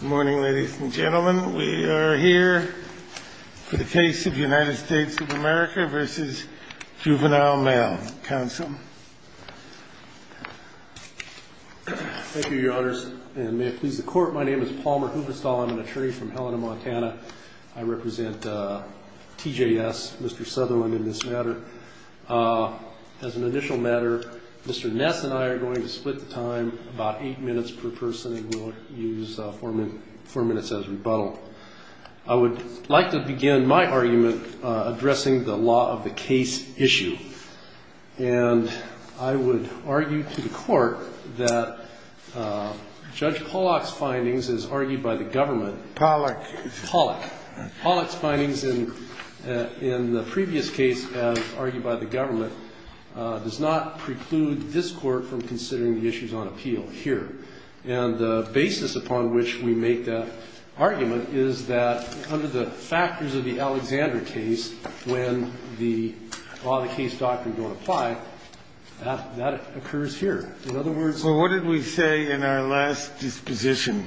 Good morning, ladies and gentlemen. We are here for the case of United States of America v. Juvenile Male. Counsel. Thank you, Your Honors. And may it please the Court, my name is Palmer Hubestall. I'm an attorney from Helena, Montana. I represent TJS, Mr. Sutherland, in this matter. As an initial matter, Mr. Ness and I are going to split the time about eight minutes per person, and we'll use four minutes as rebuttal. I would like to begin my argument addressing the law of the case issue. And I would argue to the Court that Judge Pollack's findings, as argued by the government. Pollack. Pollack. Pollack's findings in the previous case, as argued by the government, does not preclude this Court from considering the issues on appeal here. And the basis upon which we make that argument is that under the factors of the Alexander case, when the law of the case doctrine don't apply, that occurs here. In other words. Kennedy. Well, what did we say in our last disposition?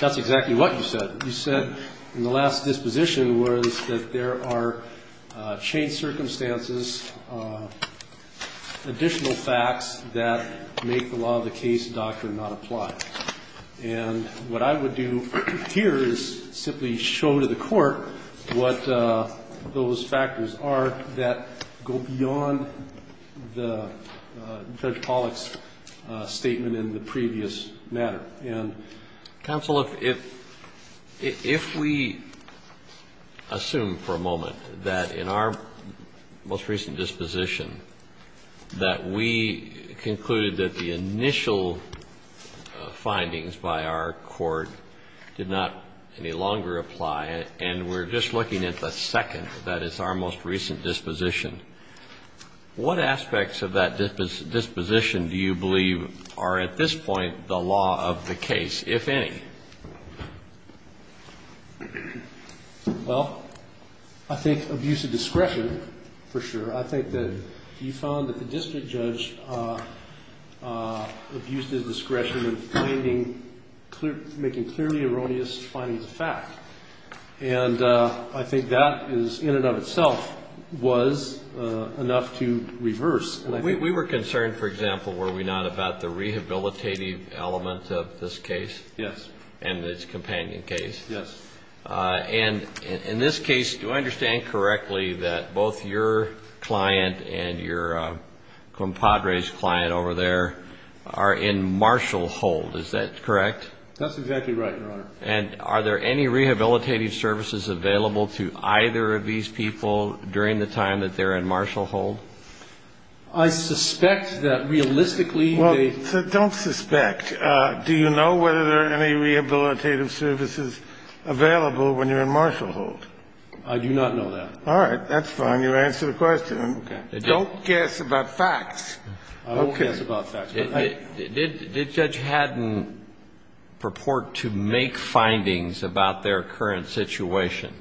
That's exactly what you said. You said in the last disposition was that there are changed circumstances, additional facts that make the law of the case doctrine not apply. And what I would do here is simply show to the Court what those factors are that go beyond the Judge Pollack's statement in the previous matter. And counsel, if we assume for a moment that in our most recent disposition that we concluded that the initial findings by our Court did not any longer apply and we're just looking at the second, that is our most recent disposition, what aspects of that disposition do you believe are at this point the law of the case, if any? Well, I think abuse of discretion, for sure. I think that you found that the district judge abused his discretion in finding, making clearly erroneous findings of fact. And I think that is, in and of itself, was enough to reverse. We were concerned, for example, were we not, about the rehabilitative element of this case. Yes. And its companion case. Yes. And in this case, do I understand correctly that both your client and your compadre's client over there are in martial hold? Is that correct? That's exactly right, Your Honor. And are there any rehabilitative services available to either of these people during the time that they're in martial hold? I suspect that realistically they don't. Well, don't suspect. Do you know whether there are any rehabilitative services available when you're in martial hold? I do not know that. All right. That's fine. You answered the question. Okay. Don't guess about facts. I won't guess about facts. Did Judge Haddon purport to make findings about their current situation?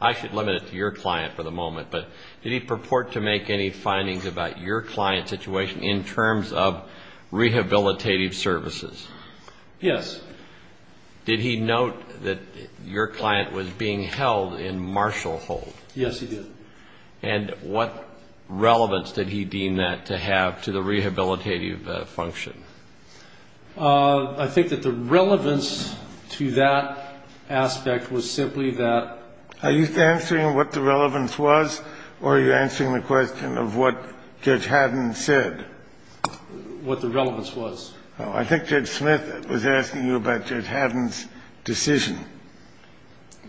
I should limit it to your client for the moment. But did he purport to make any findings about your client's situation in terms of rehabilitative services? Yes. Did he note that your client was being held in martial hold? Yes, he did. And what relevance did he deem that to have to the rehabilitative function? I think that the relevance to that aspect was simply that. Are you answering what the relevance was or are you answering the question of what Judge Haddon said? What the relevance was. I think Judge Smith was asking you about Judge Haddon's decision.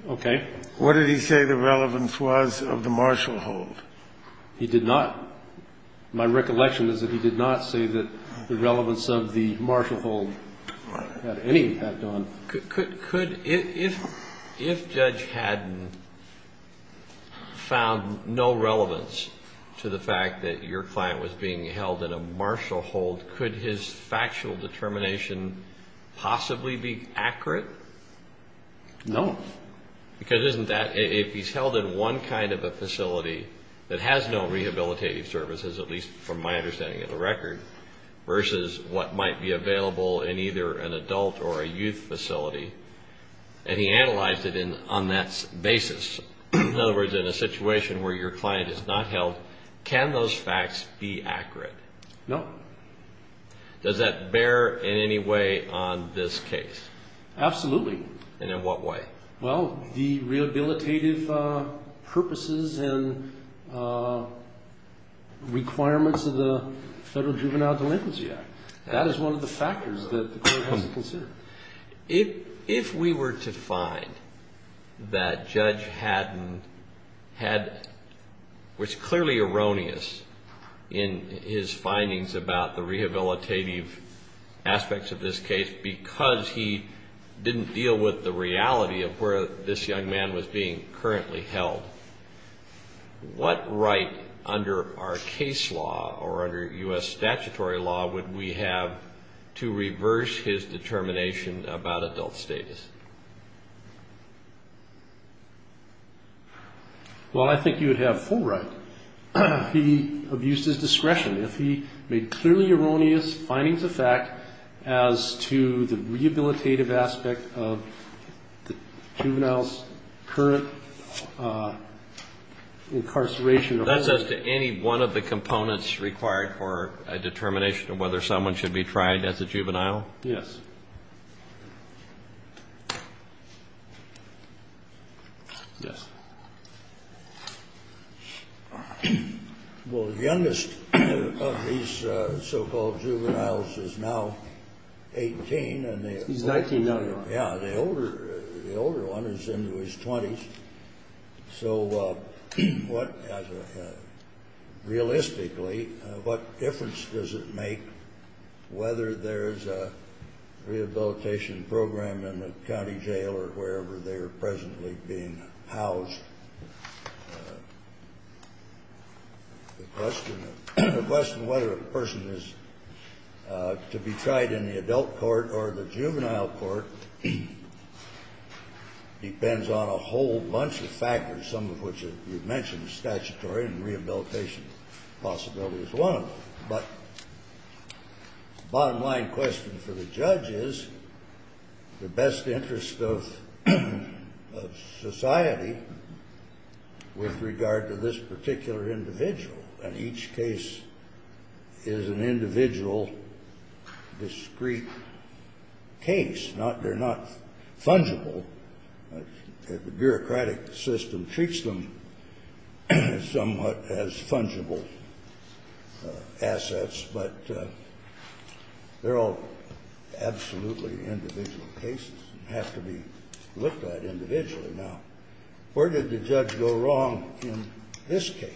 Okay. What did he say the relevance was of the martial hold? He did not. My recollection is that he did not say that the relevance of the martial hold had any to do with it. If Judge Haddon found no relevance to the fact that your client was being held in a martial hold, could his factual determination possibly be accurate? No. Because if he's held in one kind of a facility that has no rehabilitative services, at least from my understanding of the record, versus what might be available in either an adult or a youth facility, and he analyzed it on that basis. In other words, in a situation where your client is not held, can those facts be accurate? No. Does that bear in any way on this case? Absolutely. And in what way? Well, the rehabilitative purposes and requirements of the Federal Juvenile Delinquency Act. That is one of the factors that the court has to consider. If we were to find that Judge Haddon had what's clearly erroneous in his findings about the rehabilitative aspects of this case because he didn't deal with the reality of where this young man was being currently held, what right under our case law or under U.S. statutory law would we have to reverse his determination about adult status? Well, I think you would have full right. He abused his discretion. If he made clearly erroneous findings of fact as to the rehabilitative aspect of the juvenile's current incarceration. That's as to any one of the components required for a determination of whether someone should be tried as a juvenile? Yes. Yes. Well, the youngest of these so-called juveniles is now 18. He's 19 now. Yeah. The older one is in his 20s. So what, realistically, what difference does it make whether there's a rehabilitation program in a county jail or wherever they're presently being housed? The question of whether a person is to be tried in the adult court or the juvenile court depends on a whole bunch of factors, some of which you've mentioned, statutory and rehabilitation possibility is one of them. But the bottom line question for the judge is the best interest of society with regard to this particular individual. And each case is an individual discrete case. They're not fungible. The bureaucratic system treats them somewhat as fungible assets, but they're all absolutely individual cases and have to be looked at individually. Now, where did the judge go wrong in this case?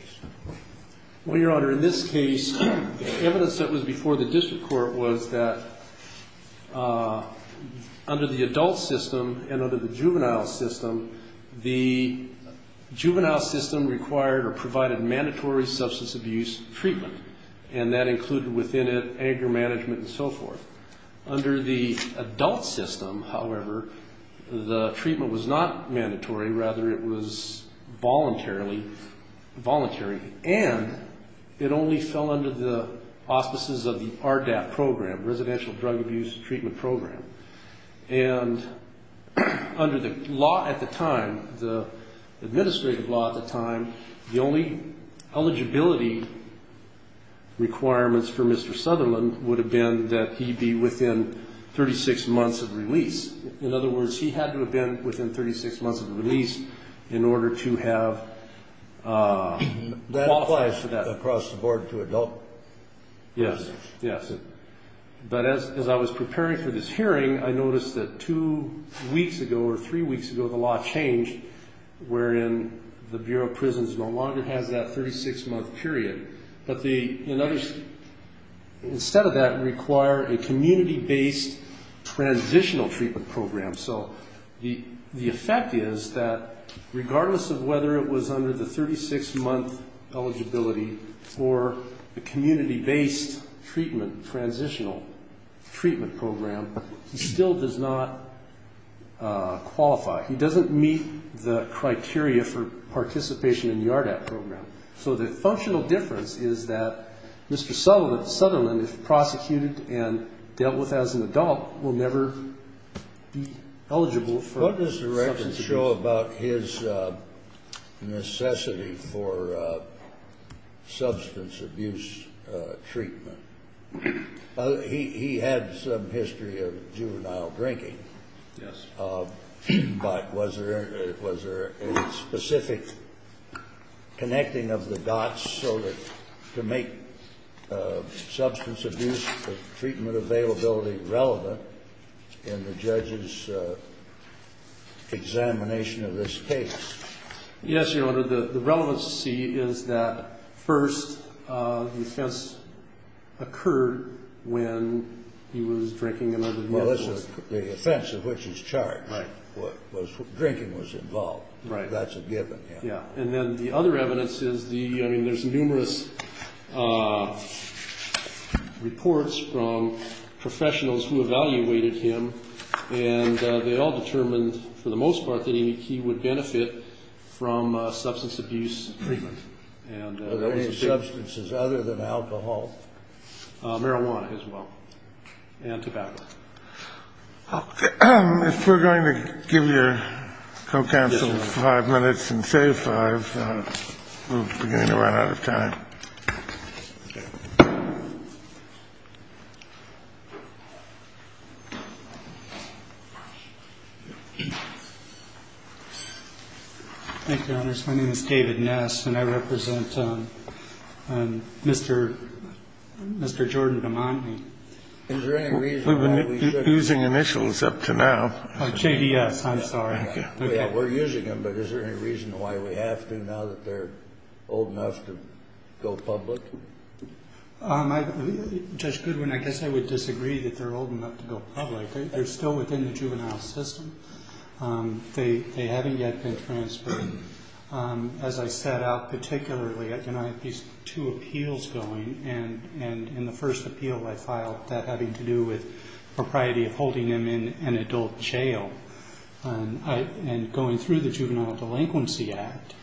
Well, Your Honor, in this case, evidence that was before the district court was that under the adult system and under the juvenile system, the juvenile system required or provided mandatory substance abuse treatment, and that included within it anger management and so forth. Under the adult system, however, the treatment was not mandatory. Rather, it was voluntarily, and it only fell under the auspices of the RDAP program, Residential Drug Abuse Treatment Program. And under the law at the time, the administrative law at the time, the only eligibility requirements for Mr. Sutherland would have been that he be within 36 months of release. In other words, he had to have been within 36 months of release in order to have qualified for that. That applies across the board to adult? Yes, yes. But as I was preparing for this hearing, I noticed that two weeks ago or three weeks ago, the law changed, wherein the Bureau of Prisons no longer has that 36-month period. But the, in other, instead of that, require a community-based transitional treatment program. So the effect is that regardless of whether it was under the 36-month eligibility or the community-based treatment, transitional treatment program, he still does not qualify. He doesn't meet the criteria for participation in the RDAP program. So the functional difference is that Mr. Sutherland, if prosecuted and dealt with as an adult, will never be eligible for substance abuse. What does the record show about his necessity for substance abuse treatment? He had some history of juvenile drinking. Yes. But was there a specific connecting of the dots to make substance abuse treatment availability relevant in the judge's examination of this case? Yes, Your Honor. The relevancy is that, first, the offense occurred when he was drinking and under the influence. Well, that's the offense of which he's charged. Right. Drinking was involved. Right. That's a given. Yeah. And then the other evidence is the, I mean, there's numerous reports from professionals who evaluated him, and they all determined, for the most part, that he would benefit from substance abuse treatment. Were there any substances other than alcohol? Marijuana, as well, and tobacco. If we're going to give your co-counsel five minutes and save five, we're beginning to run out of time. Okay. Thank you, Your Honors. My name is David Ness, and I represent Mr. Jordan Damani. Is there any reason why we should? We've been using initials up to now. Oh, JDS. I'm sorry. We're using them, but is there any reason why we have to now that they're old enough to go public? Judge Goodwin, I guess I would disagree that they're old enough to go public. They're still within the juvenile system. They haven't yet been transferred. As I set out particularly, I had these two appeals going, and in the first appeal I filed that having to do with propriety of holding him in an adult jail. And going through the Juvenile Delinquency Act,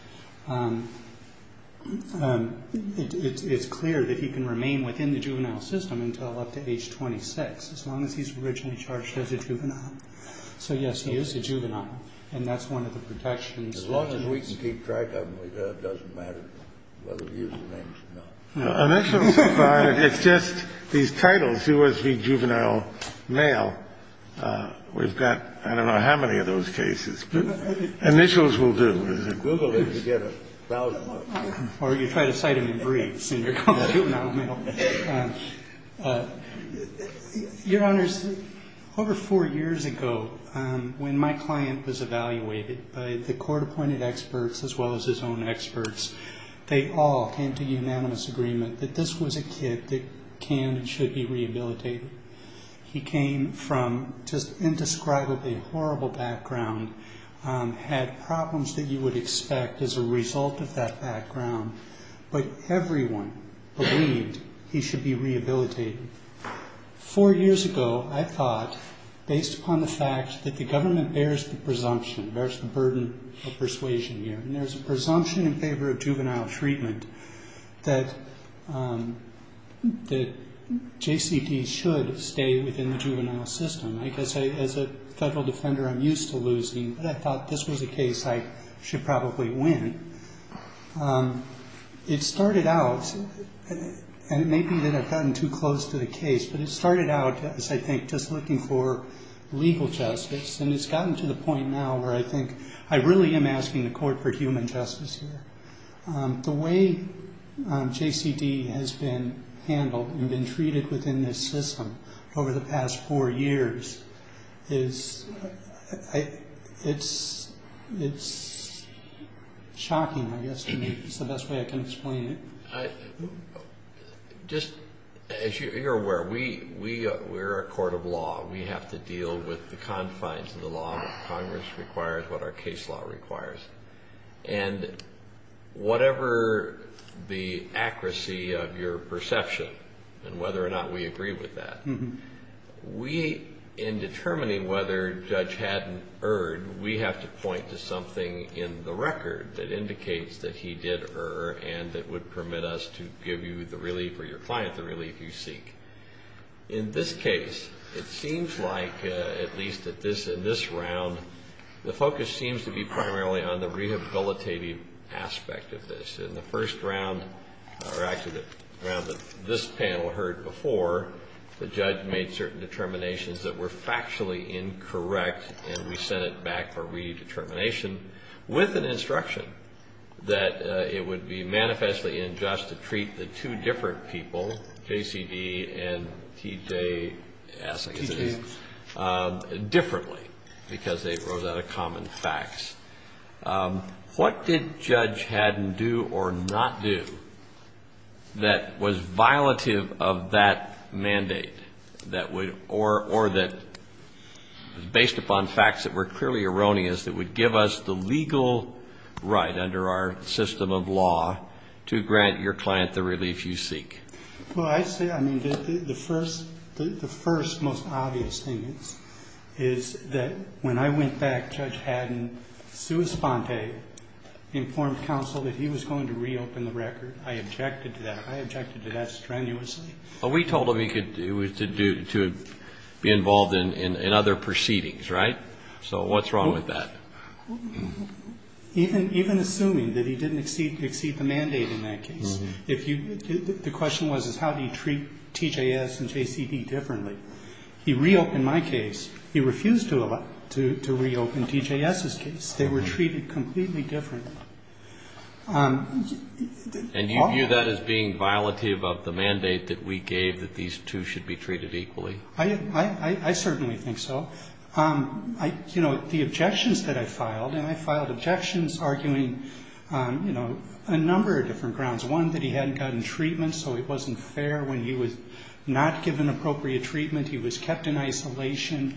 it's clear that he can remain within the juvenile system until up to age 26, as long as he's originally charged as a juvenile. So, yes, he is a juvenile, and that's one of the protections. As long as we can keep track of him, it doesn't matter whether we use the names or not. Initials apply. It's just these titles, U.S. v. Juvenile Male, we've got I don't know how many of those cases. But initials will do. Google it to get a thousand words. Or you try to cite him in briefs, and you're called a juvenile male. Your Honors, over four years ago, when my client was evaluated by the court-appointed experts as well as his own experts, they all came to unanimous agreement that this was a kid that can and should be rehabilitated. He came from just indescribably horrible background, had problems that you would expect as a result of that background. But everyone believed he should be rehabilitated. Four years ago, I thought, based upon the fact that the government bears the presumption, bears the burden of persuasion here, and there's a presumption in favor of juvenile treatment that JCD should stay within the juvenile system. I guess as a federal defender, I'm used to losing, but I thought this was a case I should probably win. It started out, and it may be that I've gotten too close to the case, but it started out as, I think, just looking for legal justice. And it's gotten to the point now where I think I really am asking the court for human justice here. The way JCD has been handled and been treated within this system over the past four years is shocking, I guess, to me. It's the best way I can explain it. Just as you're aware, we're a court of law. We have to deal with the confines of the law, what Congress requires, what our case law requires. And whatever the accuracy of your perception and whether or not we agree with that, we, in determining whether a judge hadn't erred, we have to point to something in the record that indicates that he did err and that would permit us to give you the relief or your client the relief you seek. In this case, it seems like, at least in this round, the focus seems to be primarily on the rehabilitative aspect of this. In the first round, or actually the round that this panel heard before, the judge made certain determinations that were factually incorrect, and we sent it back for redetermination with an instruction that it would be manifestly unjust to treat the two different people, J.C.D. and T.J. Assing, as it is, differently because they rose out of common facts. What did Judge Haddon do or not do that was violative of that mandate or that was based upon facts that were clearly erroneous that would give us the legal right under our system of law to grant your client the relief you seek? Well, I say, I mean, the first most obvious thing is that when I went back, Judge Haddon sua sponte informed counsel that he was going to reopen the record. I objected to that. I objected to that strenuously. But we told him he was to be involved in other proceedings, right? So what's wrong with that? Even assuming that he didn't exceed the mandate in that case. The question was, is how do you treat T.J.S. and J.C.D. differently? He reopened my case. He refused to reopen T.J.S.'s case. They were treated completely differently. And you view that as being violative of the mandate that we gave that these two should be treated equally? I certainly think so. You know, the objections that I filed, and I filed objections arguing, you know, a number of different grounds. One, that he hadn't gotten treatment, so it wasn't fair when he was not given appropriate treatment, he was kept in isolation,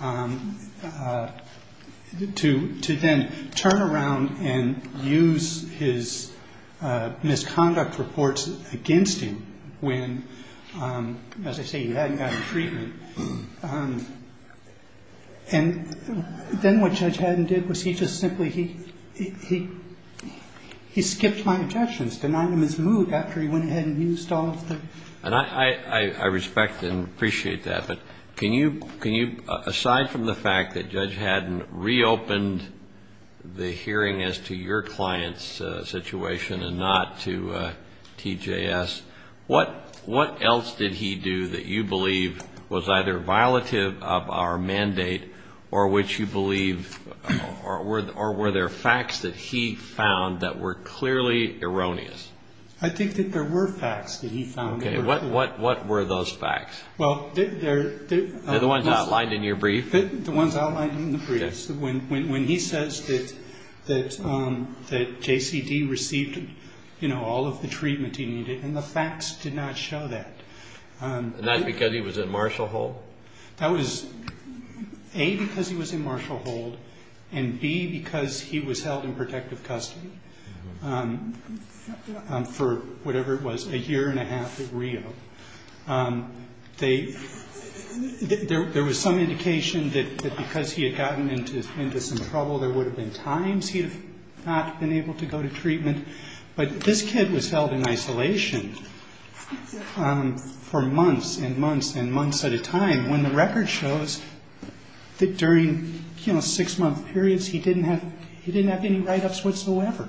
to then turn around and use his misconduct reports against him when, as I say, he hadn't gotten treatment. And then what Judge Haddon did was he just simply, he skipped my objections, denied them his mood after he went ahead and used all of them. And I respect and appreciate that. But can you, aside from the fact that Judge Haddon reopened the hearing as to your client's situation and not to T.J.S., what else did he do that you believe was either violative of our mandate, or which you believe, or were there facts that he found that were clearly erroneous? I think that there were facts that he found that were erroneous. Okay, what were those facts? Well, there... The ones outlined in your brief? The ones outlined in the brief. When he says that J.C.D. received, you know, all of the treatment he needed, and the facts did not show that. Not because he was in martial hold? That was A, because he was in martial hold, and B, because he was held in protective custody for whatever it was, There was some indication that because he had gotten into some trouble, there would have been times he would have not been able to go to treatment. But this kid was held in isolation for months and months and months at a time, when the record shows that during, you know, six-month periods, he didn't have any write-ups whatsoever.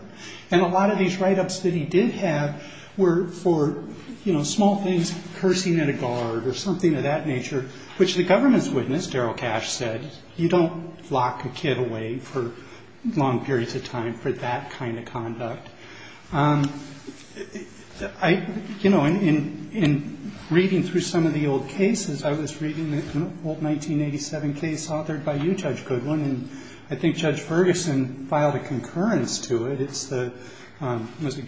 And a lot of these write-ups that he did have were for, you know, small things, cursing at a guard or something of that nature, which the government's witness, Darryl Cash, said, you don't lock a kid away for long periods of time for that kind of conduct. You know, in reading through some of the old cases, I was reading an old 1987 case authored by you, Judge Goodwin, and I think Judge Ferguson filed a concurrence to it. It's the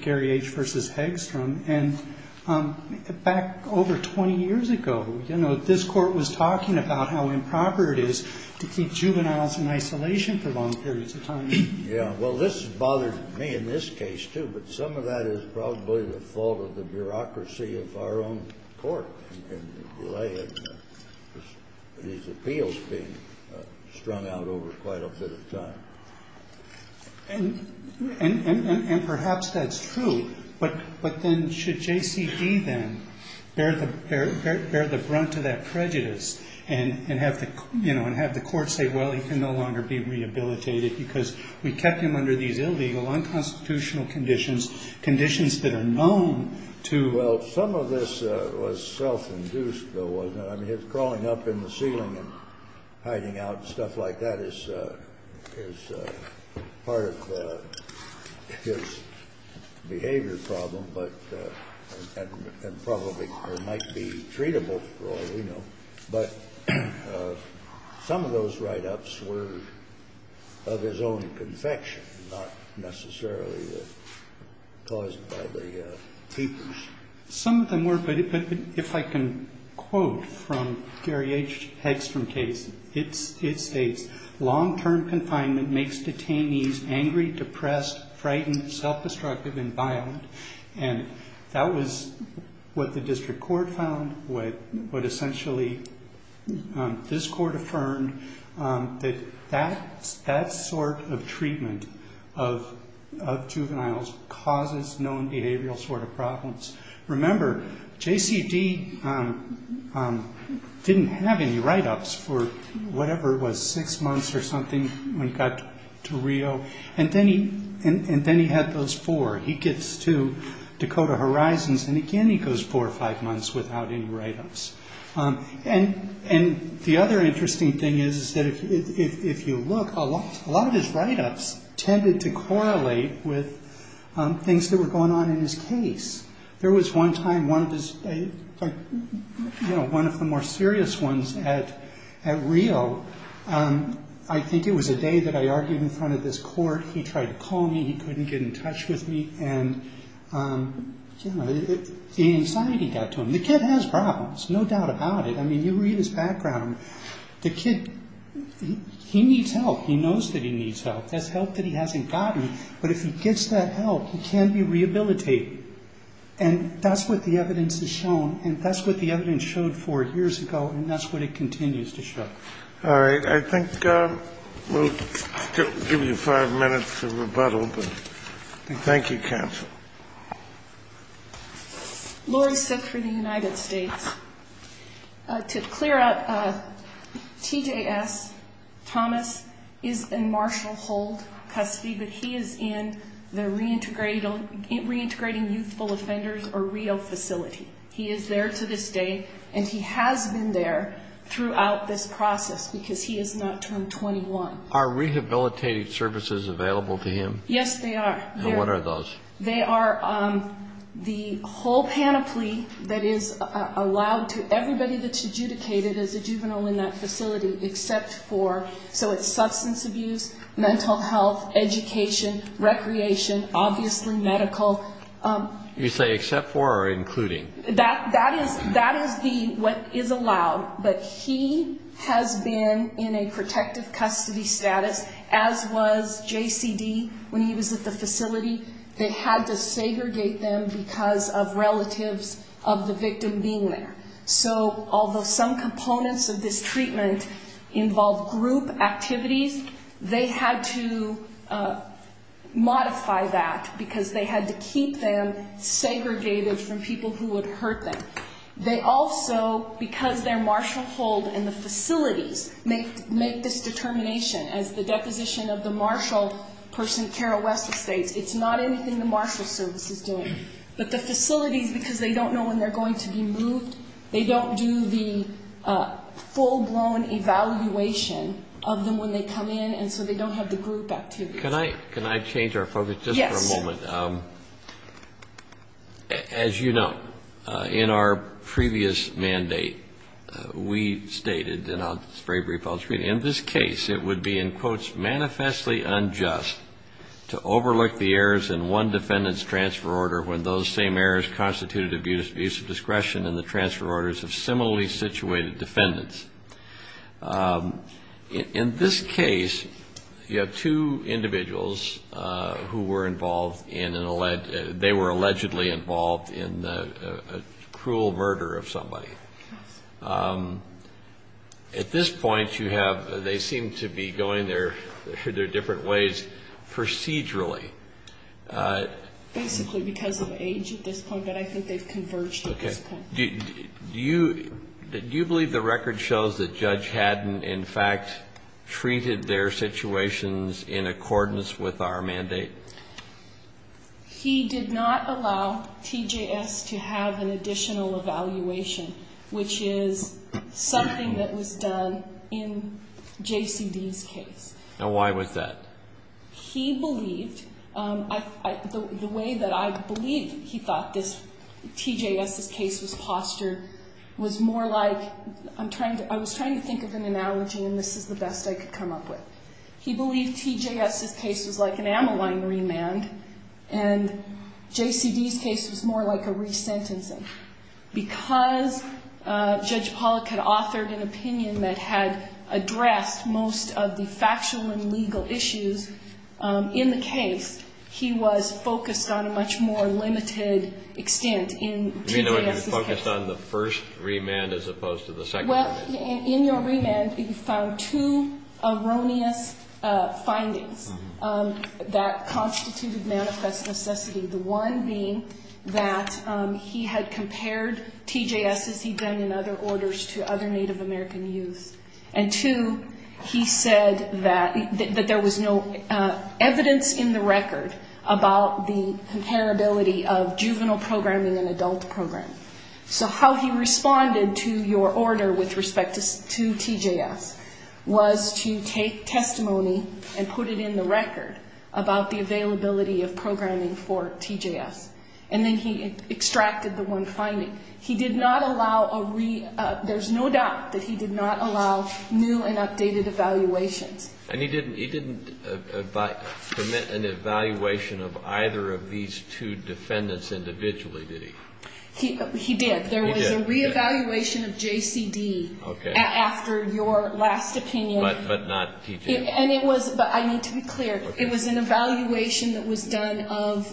Gary H. v. Hegstrom. And back over 20 years ago, you know, this Court was talking about how improper it is to keep juveniles in isolation for long periods of time. Yeah. Well, this has bothered me in this case, too, but some of that is probably the fault of the bureaucracy of our own Court, and the delay in these appeals being strung out over quite a bit of time. And perhaps that's true, but then should JCD then bear the brunt of that prejudice and have the Court say, well, he can no longer be rehabilitated because we kept him under these illegal, unconstitutional conditions, conditions that are known to ‑‑ I mean, his crawling up in the ceiling and hiding out and stuff like that is part of his behavior problem, but ‑‑ and probably might be treatable for all we know. But some of those write-ups were of his own confection, not necessarily caused by the tapers. Some of them were, but if I can quote from Gary H. Hegstrom's case, it states, long‑term confinement makes detainees angry, depressed, frightened, self‑destructive, and violent. And that was what the District Court found, what essentially this Court affirmed, that that sort of treatment of juveniles causes known behavioral sort of problems. Remember, JCD didn't have any write-ups for whatever it was, six months or something when he got to Rio. And then he had those four. He gets to Dakota Horizons, and again he goes four or five months without any write-ups. And the other interesting thing is that if you look, a lot of his write-ups tended to correlate with things that were going on in his case. There was one time, one of the more serious ones at Rio. I think it was a day that I argued in front of this Court. He tried to call me, he couldn't get in touch with me, and the anxiety got to him. The kid has problems, no doubt about it. I mean, you read his background. The kid, he needs help. He knows that he needs help. There's help that he hasn't gotten, but if he gets that help, he can be rehabilitated. And that's what the evidence has shown, and that's what the evidence showed four years ago, and that's what it continues to show. All right. I think we'll give you five minutes to rebuttal, but thank you, counsel. Lori Sick for the United States. To clear up, T.J.S. Thomas is in Marshall Hold custody, but he is in the reintegrating youthful offenders or Rio facility. He is there to this day, and he has been there throughout this process because he is not turned 21. Are rehabilitative services available to him? Yes, they are. And what are those? They are the whole panoply that is allowed to everybody that's adjudicated as a juvenile in that facility except for, so it's substance abuse, mental health, education, recreation, obviously medical. You say except for or including? That is what is allowed, but he has been in a protective custody status, as was J.C.D. when he was at the facility. They had to segregate them because of relatives of the victim being there. So although some components of this treatment involve group activities, they had to modify that because they had to keep them segregated from people who would hurt them. They also, because they're Marshall Hold and the facilities make this determination as the deposition of the Marshall person, Kara Wessel states, it's not anything the Marshall service is doing. But the facilities, because they don't know when they're going to be moved, they don't do the full-blown evaluation of them when they come in, and so they don't have the group activities. Can I change our focus just for a moment? Yes. As you know, in our previous mandate, we stated, and I'll just very briefly follow through, in this case it would be, in quotes, manifestly unjust to overlook the errors in one defendant's transfer order when those same errors constituted abuse of discretion in the transfer orders of similarly situated defendants. In this case, you have two individuals who were involved in an, they were allegedly involved in a cruel murder of somebody. Yes. At this point, you have, they seem to be going their different ways procedurally. Basically because of age at this point, but I think they've converged at this point. Do you believe the record shows that Judge Haddon, in fact, treated their situations in accordance with our mandate? He did not allow TJS to have an additional evaluation, which is something that was done in JCD's case. Now, why was that? He believed, the way that I believe he thought this, TJS's case was postured, was more like, I'm trying to, I was trying to think of an analogy, and this is the best I could come up with. He believed TJS's case was like an amyline remand, and JCD's case was more like a resentencing. Because Judge Pollack had authored an opinion that had addressed most of the factual and legal issues in the case, he was focused on a much more limited extent in TJS's case. You know, he was focused on the first remand as opposed to the second remand. Well, in your remand, you found two erroneous findings that constituted manifest necessity, the one being that he had compared TJS as he'd done in other orders to other Native American youth, and two, he said that there was no evidence in the record about the comparability of juvenile programming and adult programming. So how he responded to your order with respect to TJS was to take testimony and put it in the record about the availability of programming for TJS. And then he extracted the one finding. He did not allow a re, there's no doubt that he did not allow new and updated evaluations. And he didn't, he didn't commit an evaluation of either of these two defendants individually, did he? He did. He did. There was a reevaluation of JCD after your last opinion. But not TJS. And it was, but I need to be clear, it was an evaluation that was done of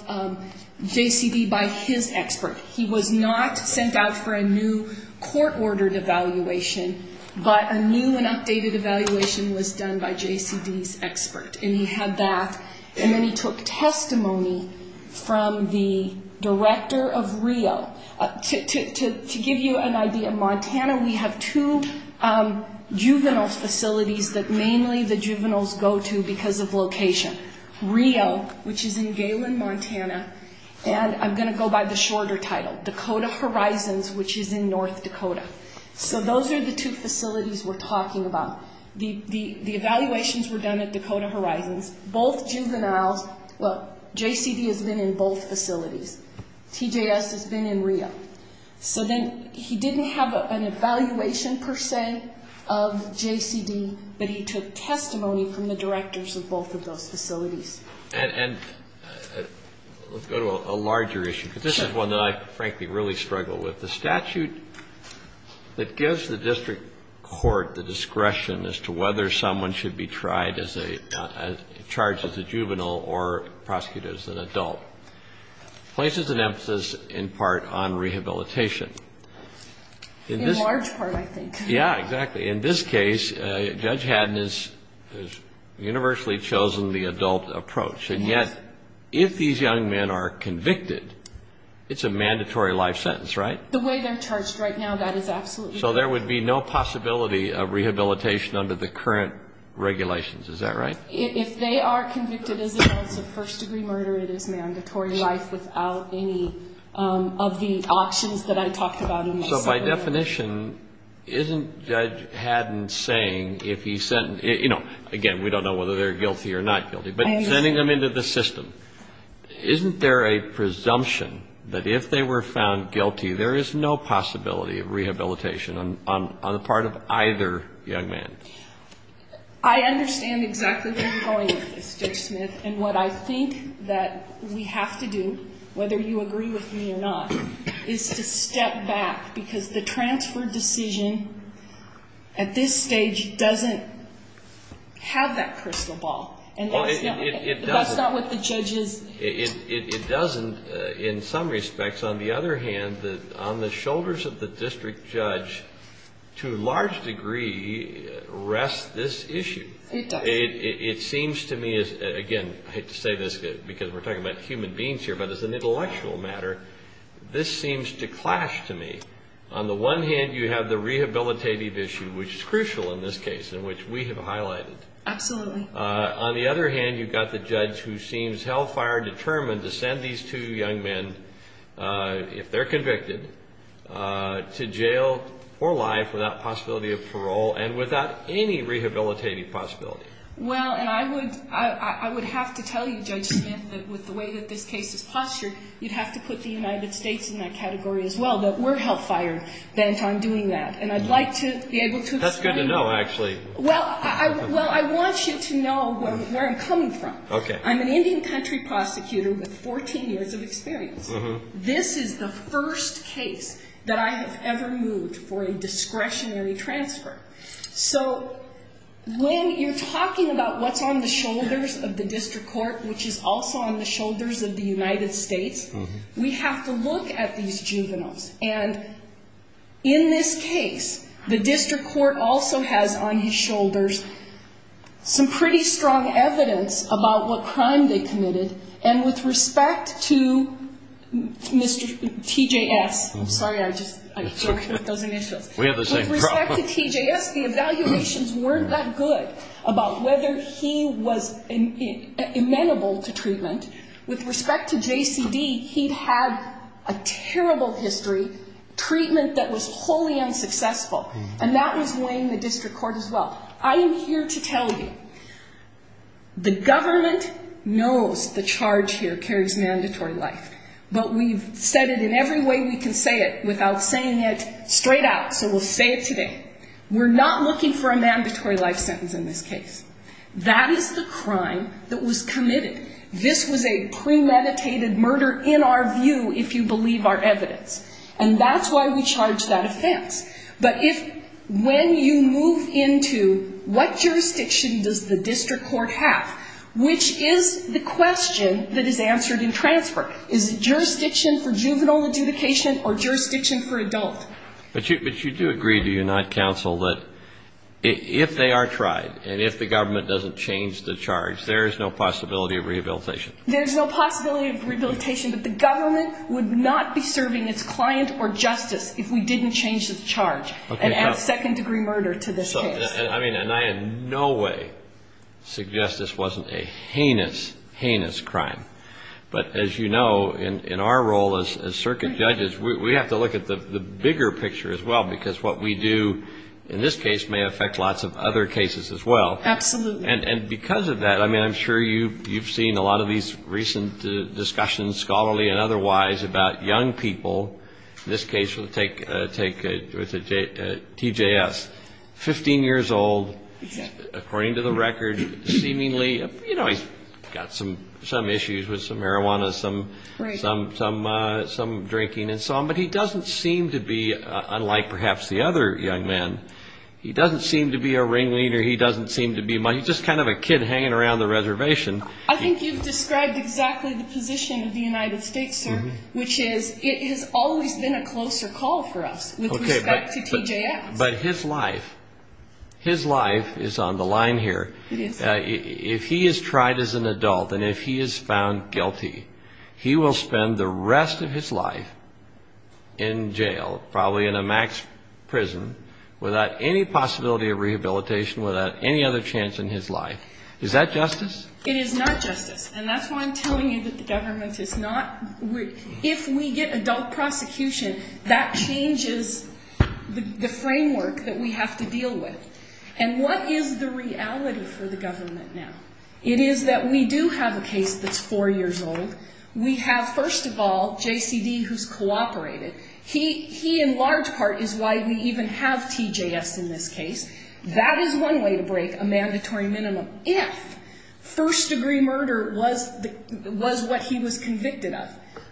JCD by his expert. He was not sent out for a new court-ordered evaluation, but a new and updated evaluation was done by JCD's expert. And he had that, and then he took testimony from the director of Rio. To give you an idea, Montana, we have two juvenile facilities that mainly the juveniles go to because of location. Rio, which is in Galen, Montana, and I'm going to go by the shorter title, Dakota Horizons, which is in North Dakota. So those are the two facilities we're talking about. The evaluations were done at Dakota Horizons. Both juveniles, well, JCD has been in both facilities. TJS has been in Rio. So then he didn't have an evaluation, per se, of JCD, but he took testimony from the directors of both of those facilities. And let's go to a larger issue, because this is one that I frankly really struggle with. The statute that gives the district court the discretion as to whether someone should be tried as a, charged as a juvenile or prosecuted as an adult. Places an emphasis, in part, on rehabilitation. In large part, I think. Yeah, exactly. In this case, Judge Haddon has universally chosen the adult approach. And yet, if these young men are convicted, it's a mandatory life sentence, right? The way they're charged right now, that is absolutely correct. So there would be no possibility of rehabilitation under the current regulations, is that right? If they are convicted as adults of first-degree murder, it is mandatory life without any of the auctions that I talked about. So by definition, isn't Judge Haddon saying if he sent, you know, again, we don't know whether they're guilty or not guilty. But sending them into the system, isn't there a presumption that if they were found guilty, there is no possibility of rehabilitation on the part of either young man? I understand exactly where you're going with this, Judge Smith. And what I think that we have to do, whether you agree with me or not, is to step back. Because the transfer decision at this stage doesn't have that crystal ball. And that's not what the judge is. It doesn't, in some respects. On the other hand, on the shoulders of the district judge, to a large degree, rests this issue. It does. It seems to me, again, I hate to say this because we're talking about human beings here, but as an intellectual matter, this seems to clash to me. On the one hand, you have the rehabilitative issue, which is crucial in this case, and which we have highlighted. Absolutely. On the other hand, you've got the judge who seems hell-fire determined to send these two young men, if they're convicted, to jail or life without possibility of parole and without any rehabilitative possibility. Well, and I would have to tell you, Judge Smith, that with the way that this case is postured, you'd have to put the United States in that category as well, that we're hell-fire bent on doing that. And I'd like to be able to explain that. That's good to know, actually. Well, I want you to know where I'm coming from. I'm an Indian country prosecutor with 14 years of experience. This is the first case that I have ever moved for a discretionary transfer. So when you're talking about what's on the shoulders of the district court, which is also on the shoulders of the United States, we have to look at these juveniles. And in this case, the district court also has on his shoulders some pretty strong evidence about what crime they committed. And with respect to Mr. T.J.S. Sorry, I just broke those initials. We have the same problem. With respect to T.J.S., the evaluations weren't that good about whether he was amenable to treatment. With respect to J.C.D., he'd had a terrible history, treatment that was wholly unsuccessful. And that was weighing the district court as well. I am here to tell you, the government knows the charge here carries mandatory life. But we've said it in every way we can say it without saying it straight out. So we'll say it today. We're not looking for a mandatory life sentence in this case. That is the crime that was committed. This was a premeditated murder in our view, if you believe our evidence. And that's why we charge that offense. But if when you move into what jurisdiction does the district court have, which is the question that is answered in transfer. Is it jurisdiction for juvenile adjudication or jurisdiction for adult? But you do agree, do you not, counsel, that if they are tried and if the government doesn't change the charge, there is no possibility of rehabilitation? There is no possibility of rehabilitation. But the government would not be serving its client or justice if we didn't change the charge and add second-degree murder to this case. And I in no way suggest this wasn't a heinous, heinous crime. But as you know, in our role as circuit judges, we have to look at the bigger picture as well, because what we do in this case may affect lots of other cases as well. Absolutely. And because of that, I mean, I'm sure you've seen a lot of these recent discussions, scholarly and otherwise, about young people. In this case, we'll take TJS, 15 years old, according to the record, seemingly, you know, he's got some issues with some marijuana, some drinking and so on. But he doesn't seem to be, unlike perhaps the other young man, he doesn't seem to be a ringleader. He doesn't seem to be much. He's just kind of a kid hanging around the reservation. I think you've described exactly the position of the United States, sir, which is it has always been a closer call for us with respect to TJS. But his life, his life is on the line here. It is. If he is tried as an adult and if he is found guilty, he will spend the rest of his life in jail, probably in a max prison, without any possibility of rehabilitation, without any other chance in his life. Is that justice? It is not justice. And that's why I'm telling you that the government is not. If we get adult prosecution, that changes the framework that we have to deal with. And what is the reality for the government now? It is that we do have a case that's 4 years old. We have, first of all, JCD, who's cooperated. He, in large part, is why we even have TJS in this case. That is one way to break a mandatory minimum. If first-degree murder was what he was convicted of,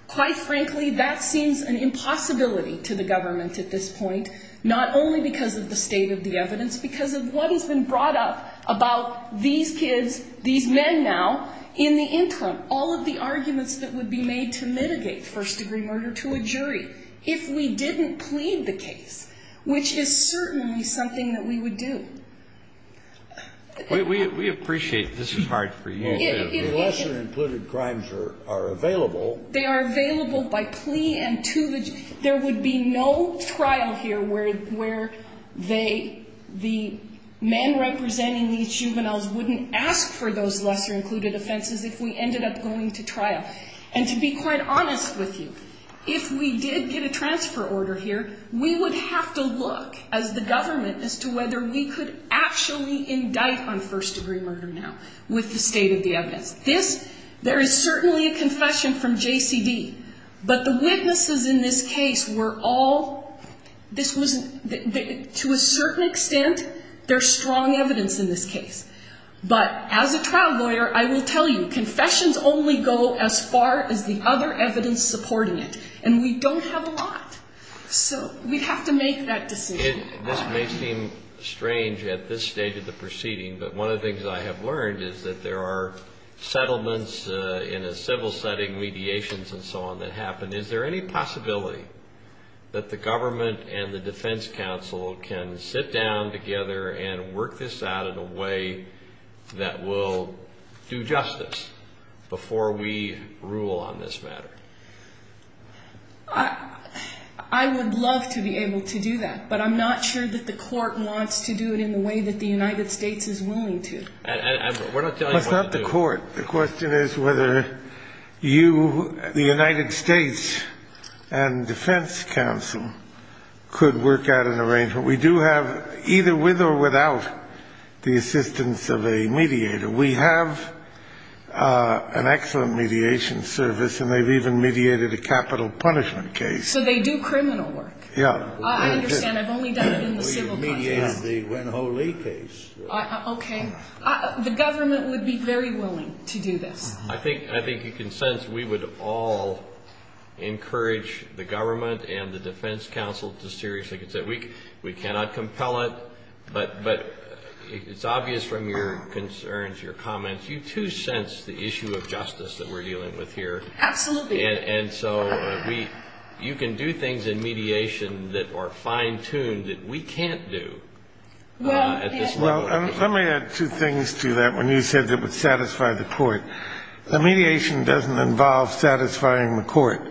quite frankly, that seems an impossibility to the government at this point, not only because of the state of the evidence, because of what has been brought up about these kids, these men now, in the interim. All of the arguments that would be made to mitigate first-degree murder to a jury, if we didn't plead the case, which is certainly something that we would do. We appreciate this part for you. The lesser-included crimes are available. They are available by plea. There would be no trial here where the men representing these juveniles wouldn't ask for those lesser-included offenses if we ended up going to trial. And to be quite honest with you, if we did get a transfer order here, we would have to look, as the government, as to whether we could actually indict on first-degree murder now with the state of the evidence. This, there is certainly a confession from JCD, but the witnesses in this case were all, this was, to a certain extent, there's strong evidence in this case. But as a trial lawyer, I will tell you, confessions only go as far as the other evidence supporting it. And we don't have a lot. So we'd have to make that decision. This may seem strange at this stage of the proceeding, but one of the things I have learned is that there are settlements in a civil setting, mediations and so on, that happen. Is there any possibility that the government and the defense counsel can sit down together and work this out in a way that will do justice before we rule on this matter? I would love to be able to do that, but I'm not sure that the court wants to do it in the way that the United States is willing to. We're not telling you what to do. It's not the court. The question is whether you, the United States, and defense counsel could work out an arrangement. We do have, either with or without the assistance of a mediator, we have an excellent mediation service, and they've even mediated a capital punishment case. So they do criminal work? Yeah. I understand. I've only done it in the civil context. We've mediated the Wen-Ho Lee case. Okay. The government would be very willing to do this. I think you can sense we would all encourage the government and the defense counsel to seriously consider it. We cannot compel it, but it's obvious from your concerns, your comments, you, too, sense the issue of justice that we're dealing with here. Absolutely. And so you can do things in mediation that are fine-tuned that we can't do at this level. Well, let me add two things to that. When you said it would satisfy the court, the mediation doesn't involve satisfying the court.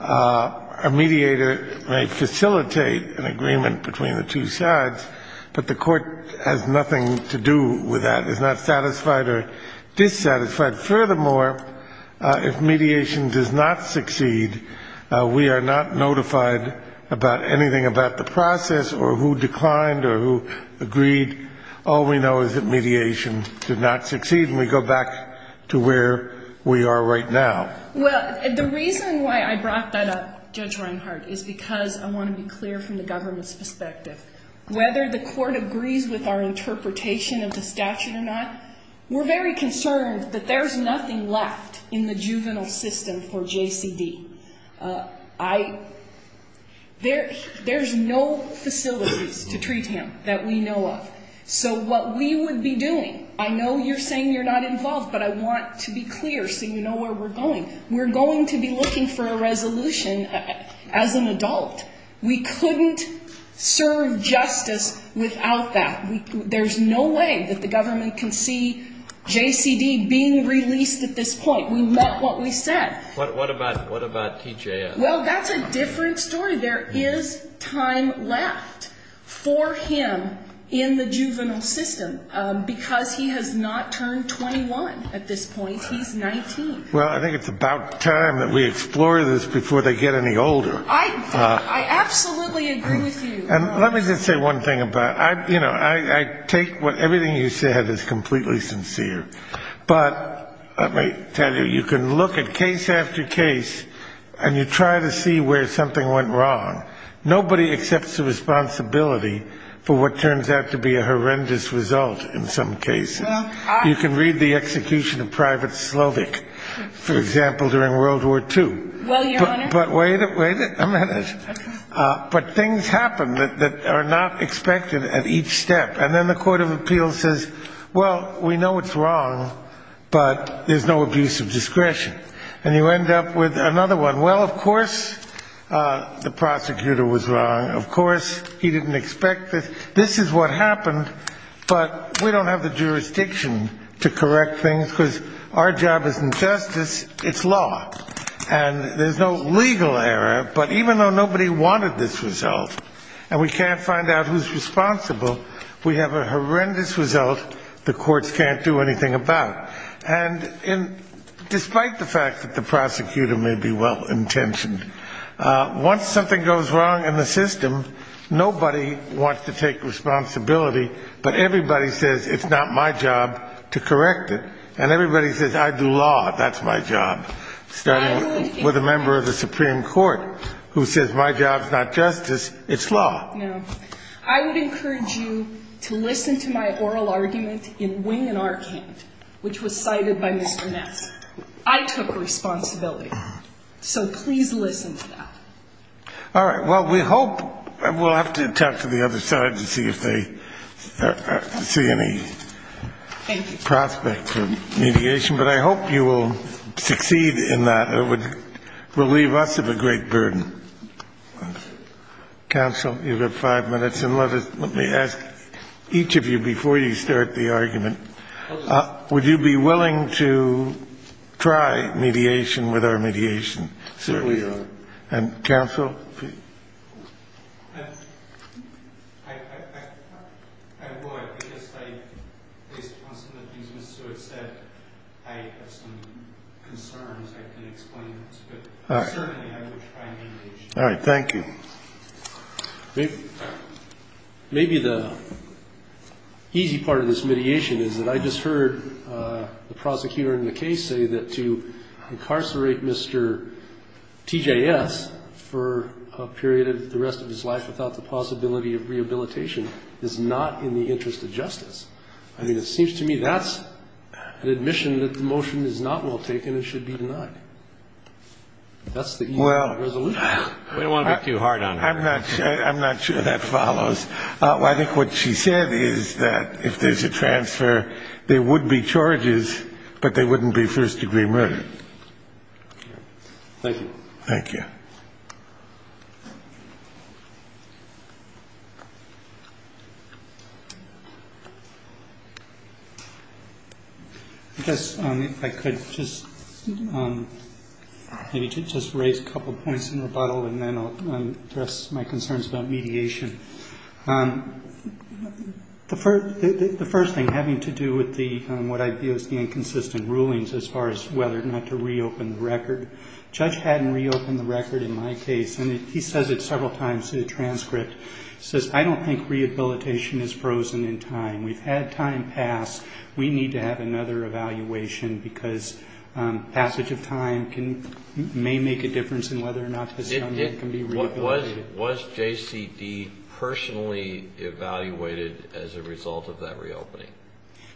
A mediator may facilitate an agreement between the two sides, but the court has nothing to do with that, is not satisfied or dissatisfied. Furthermore, if mediation does not succeed, we are not notified about anything about the process or who declined or who agreed. All we know is that mediation did not succeed, and we go back to where we are right now. Well, the reason why I brought that up, Judge Reinhart, is because I want to be clear from the government's perspective. Whether the court agrees with our interpretation of the statute or not, we're very concerned that there's nothing left in the juvenile system for JCD. There's no facilities to treat him that we know of. So what we would be doing, I know you're saying you're not involved, but I want to be clear so you know where we're going. We're going to be looking for a resolution as an adult. We couldn't serve justice without that. There's no way that the government can see JCD being released at this point. We met what we said. What about TJS? Well, that's a different story. There is time left for him in the juvenile system because he has not turned 21 at this point. He's 19. Well, I think it's about time that we explore this before they get any older. I absolutely agree with you. And let me just say one thing about it. You know, I take everything you said as completely sincere. But let me tell you, you can look at case after case and you try to see where something went wrong. Nobody accepts the responsibility for what turns out to be a horrendous result in some cases. You can read the execution of Private Slovic, for example, during World War II. Well, Your Honor. But wait a minute. But things happen that are not expected at each step. And then the court of appeals says, well, we know it's wrong, but there's no abuse of discretion. And you end up with another one. Well, of course the prosecutor was wrong. Of course he didn't expect this. This is what happened. But we don't have the jurisdiction to correct things because our job isn't justice, it's law. And there's no legal error. But even though nobody wanted this result and we can't find out who's responsible, we have a horrendous result the courts can't do anything about. And despite the fact that the prosecutor may be well-intentioned, once something goes wrong in the system, nobody wants to take responsibility, but everybody says it's not my job to correct it. And everybody says I do law, that's my job, starting with a member of the Supreme Court who says my job's not justice, it's law. No. I would encourage you to listen to my oral argument in Wing and Arcand, which was cited by Mr. Ness. I took responsibility. So please listen to that. All right. Well, we hope we'll have to talk to the other side to see if they see any prospect for mediation. But I hope you will succeed in that. It would relieve us of a great burden. Counsel, you've got five minutes. And let me ask each of you before you start the argument, would you be willing to try mediation with our mediation? And counsel? I would, because based upon some of the things Mr. Stewart said, I have some concerns I can explain. But certainly I would try mediation. All right. Thank you. Maybe the easy part of this mediation is that I just heard the prosecutor in the case say that to incarcerate Mr. TJS for a period of the rest of his life without the possibility of rehabilitation is not in the interest of justice. I mean, it seems to me that's an admission that the motion is not well taken and should be denied. That's the easy resolution. We don't want to be too hard on her. I'm not sure that follows. I think what she said is that if there's a transfer, there would be charges, but they wouldn't be first degree murder. Thank you. Thank you. I guess if I could just maybe just raise a couple points in rebuttal, and then I'll address my concerns about mediation. The first thing, having to do with what I view as the inconsistent rulings as far as whether or not to reopen the record, the judge hadn't reopened the record in my case, and he says it several times in the transcript. He says, I don't think rehabilitation is frozen in time. We've had time pass. We need to have another evaluation because passage of time may make a difference in whether or not this young man can be rehabilitated. Was JCD personally evaluated as a result of that reopening?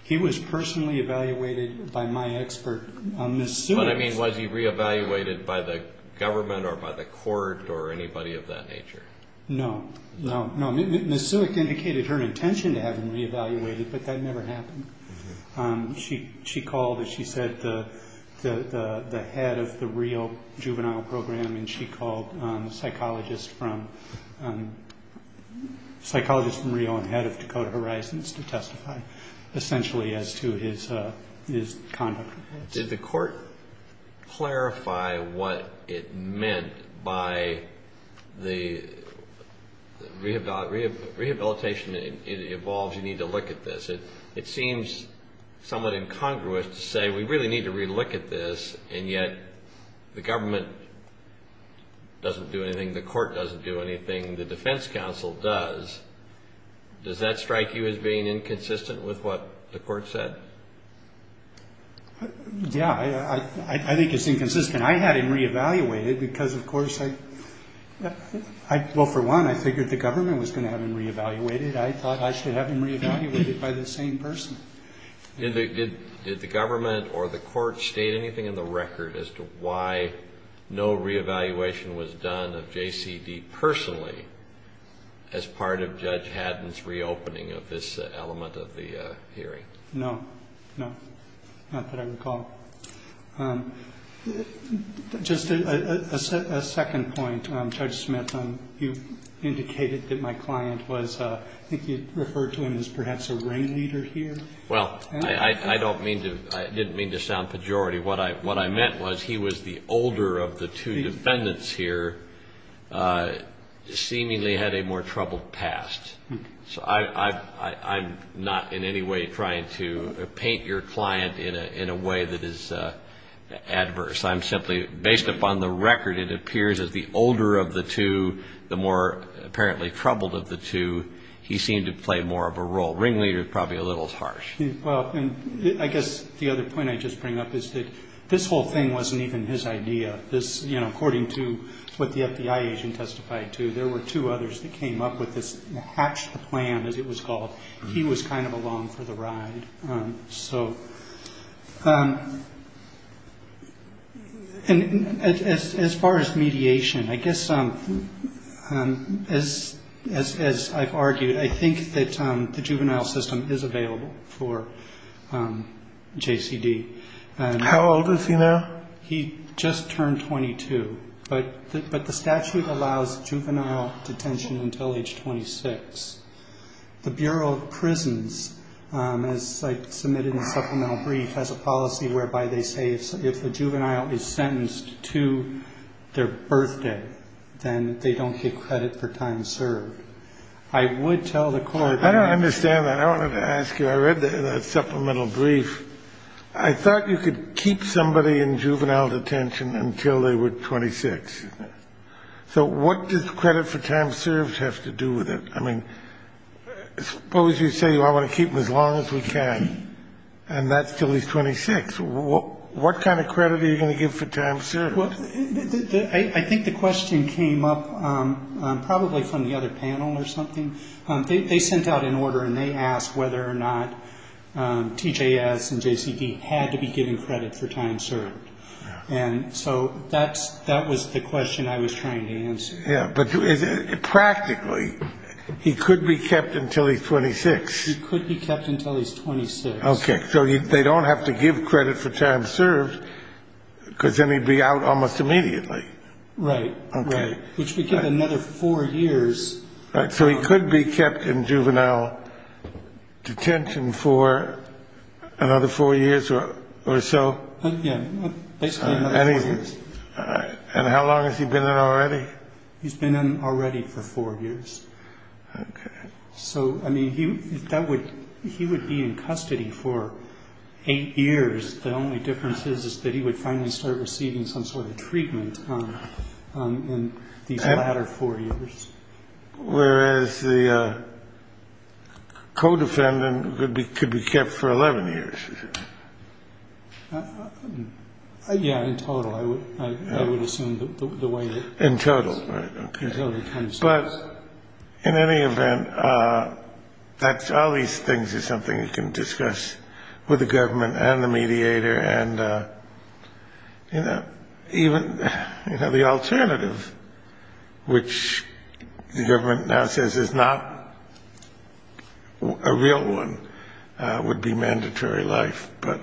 He was personally evaluated by my expert on this suit. But, I mean, was he reevaluated by the government or by the court or anybody of that nature? No, no, no. Ms. Suick indicated her intention to have him reevaluated, but that never happened. She called, as she said, the head of the Rio juvenile program, and she called a psychologist from Rio and head of Dakota Horizons to testify, essentially, as to his conduct. Did the court clarify what it meant by the rehabilitation evolves, you need to look at this? It seems somewhat incongruous to say we really need to relook at this, and yet the government doesn't do anything, the court doesn't do anything, the defense counsel does. Does that strike you as being inconsistent with what the court said? Yeah, I think it's inconsistent. I had him reevaluated because, of course, I, well, for one, I figured the government was going to have him reevaluated. I thought I should have him reevaluated by the same person. Did the government or the court state anything in the record as to why no reevaluation was done of JCD personally as part of Judge Haddon's reopening of this element of the hearing? No, no, not that I recall. Just a second point, Judge Smith, you indicated that my client was, I think you referred to him as perhaps a ringleader here. Well, I don't mean to, I didn't mean to sound pejorative. What I meant was he was the older of the two defendants here, seemingly had a more troubled past. So I'm not in any way trying to paint your client in a way that is adverse. I'm simply, based upon the record, it appears as the older of the two, the more apparently troubled of the two, he seemed to play more of a role. Ringleader is probably a little harsh. Well, I guess the other point I just bring up is that this whole thing wasn't even his idea. This, you know, according to what the FBI agent testified to, there were two others that came up with this, hatched the plan as it was called. He was kind of along for the ride. So as far as mediation, I guess as I've argued, I think that the juvenile system is available for JCD. How old is he now? He just turned 22. But the statute allows juvenile detention until age 26. The Bureau of Prisons, as I submitted in the supplemental brief, has a policy whereby they say if a juvenile is sentenced to their birthday, then they don't get credit for time served. I would tell the Court that they need to do that. I don't understand that. I wanted to ask you. I read the supplemental brief. I thought you could keep somebody in juvenile detention until they were 26. So what does credit for time served have to do with it? I mean, suppose you say, well, I want to keep him as long as we can, and that's until he's 26. What kind of credit are you going to give for time served? Well, I think the question came up probably from the other panel or something. They sent out an order and they asked whether or not TJS and JCD had to be given credit for time served. And so that was the question I was trying to answer. Yeah. But practically, he could be kept until he's 26. He could be kept until he's 26. Okay. So they don't have to give credit for time served because then he'd be out almost immediately. Right. Right. Which would give him another four years. So he could be kept in juvenile detention for another four years or so? Yeah, basically another four years. And how long has he been in already? He's been in already for four years. Okay. So, I mean, he would be in custody for eight years. The only difference is that he would finally start receiving some sort of treatment in these latter four years. Whereas the co-defendant could be kept for 11 years. Yeah, in total, I would assume. In total, right. But in any event, all these things are something you can discuss with the government and the mediator. And, you know, even the alternative, which the government now says is not a real one, would be mandatory life. But,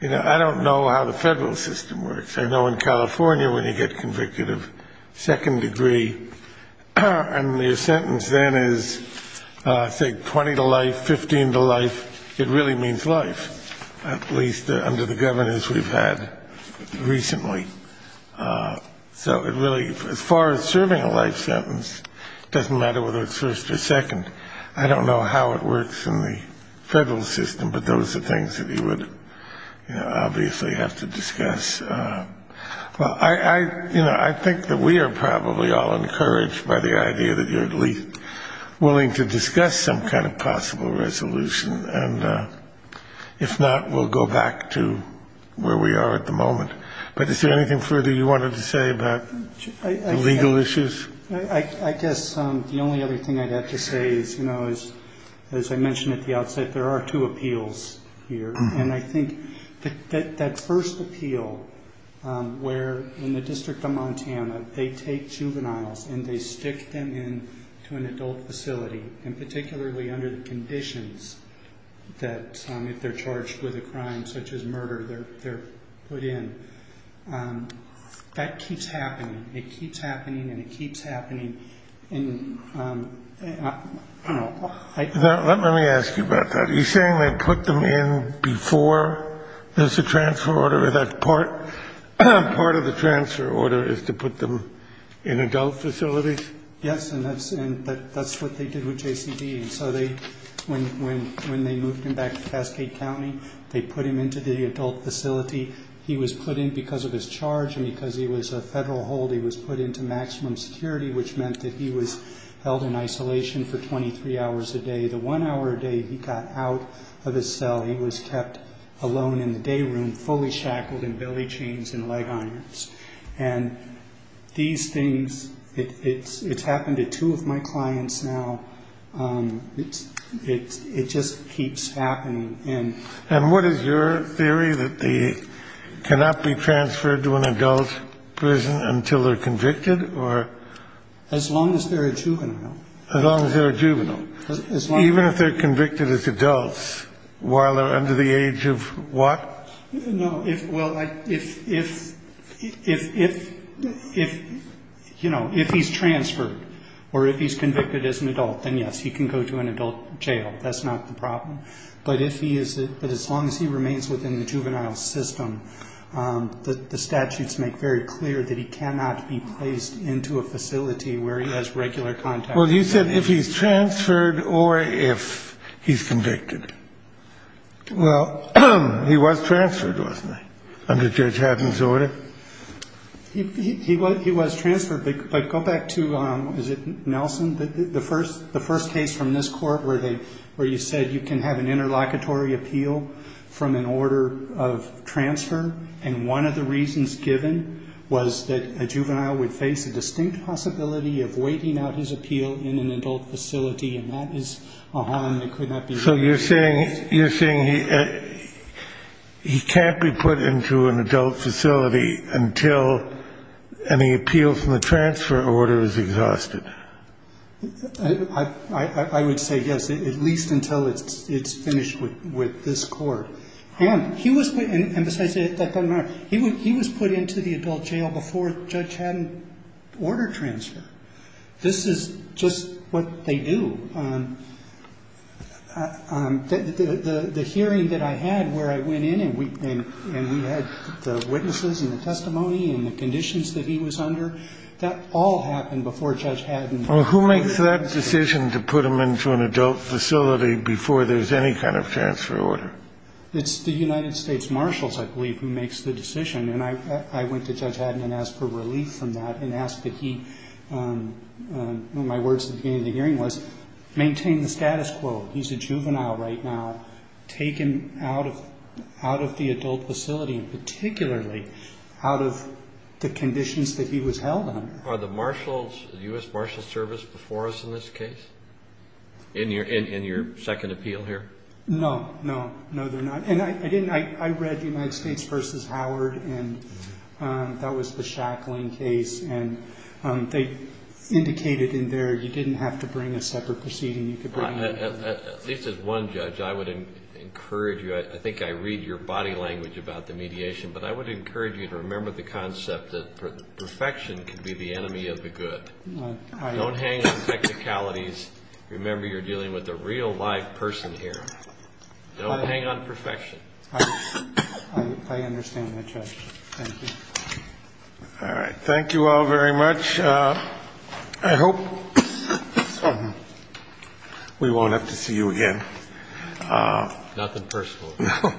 you know, I don't know how the federal system works. I know in California when you get convicted of second degree and your sentence then is, say, 20 to life, 15 to life, it really means life. At least under the governors we've had recently. So it really, as far as serving a life sentence, it doesn't matter whether it's first or second. I don't know how it works in the federal system, but those are things that you would obviously have to discuss. Well, I think that we are probably all encouraged by the idea that you're at least willing to discuss some kind of possible resolution. And if not, we'll go back to where we are at the moment. But is there anything further you wanted to say about legal issues? I guess the only other thing I'd have to say is, you know, as I mentioned at the outset, there are two appeals here. And I think that first appeal where in the District of Montana they take juveniles and they stick them in to an adult facility, and particularly under the conditions that if they're charged with a crime such as murder, they're put in. That keeps happening. It keeps happening and it keeps happening. Let me ask you about that. Are you saying they put them in before there's a transfer order, that part of the transfer order is to put them in adult facilities? Yes, and that's what they did with JCD. And so when they moved him back to Cascade County, they put him into the adult facility. He was put in because of his charge and because he was a federal hold. He was put into maximum security, which meant that he was held in isolation for 23 hours a day. The one hour a day he got out of his cell, he was kept alone in the day room, fully shackled in belly chains and leg irons. And these things, it's happened to two of my clients now. It just keeps happening. And what is your theory, that they cannot be transferred to an adult prison until they're convicted or? As long as they're a juvenile. As long as they're a juvenile. Even if they're convicted as adults, while they're under the age of what? No, well, if he's transferred or if he's convicted as an adult, then yes, he can go to an adult jail. That's not the problem. But as long as he remains within the juvenile system, the statutes make very clear that he cannot be placed into a facility where he has regular contact. Well, you said if he's transferred or if he's convicted. Well, he was transferred, wasn't he, under Judge Haddon's order? He was transferred. But go back to, is it Nelson, the first case from this court where you said you can have an interlocutory appeal from an order of transfer. And one of the reasons given was that a juvenile would face a distinct possibility of waiting out his appeal in an adult facility. And that is a harm that could not be. So you're saying he can't be put into an adult facility until any appeal from the transfer order is exhausted. I would say yes, at least until it's finished with this court. And he was put into the adult jail before Judge Haddon ordered transfer. This is just what they do. The hearing that I had where I went in and we had the witnesses and the testimony and the conditions that he was under, that all happened before Judge Haddon. Well, who makes that decision to put him into an adult facility before there's any kind of transfer order? It's the United States Marshals, I believe, who makes the decision. And I went to Judge Haddon and asked for relief from that and asked that he, in my words at the beginning of the hearing was, maintain the status quo. He's a juvenile right now. Take him out of the adult facility and particularly out of the conditions that he was held under. Are the U.S. Marshals Service before us in this case in your second appeal here? No, no, no, they're not. And I read United States v. Howard, and that was the Shackling case, and they indicated in there you didn't have to bring a separate proceeding. At least as one judge, I would encourage you, I think I read your body language about the mediation, but I would encourage you to remember the concept that perfection can be the enemy of the good. Don't hang on technicalities. Remember, you're dealing with a real, live person here. Don't hang on perfection. I understand that, Judge. Thank you. All right. Thank you all very much. I hope we won't have to see you again. Nothing personal. No.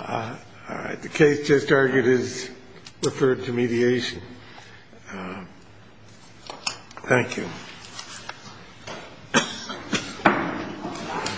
All right. The case just argued is referred to mediation. Thank you. Thank you.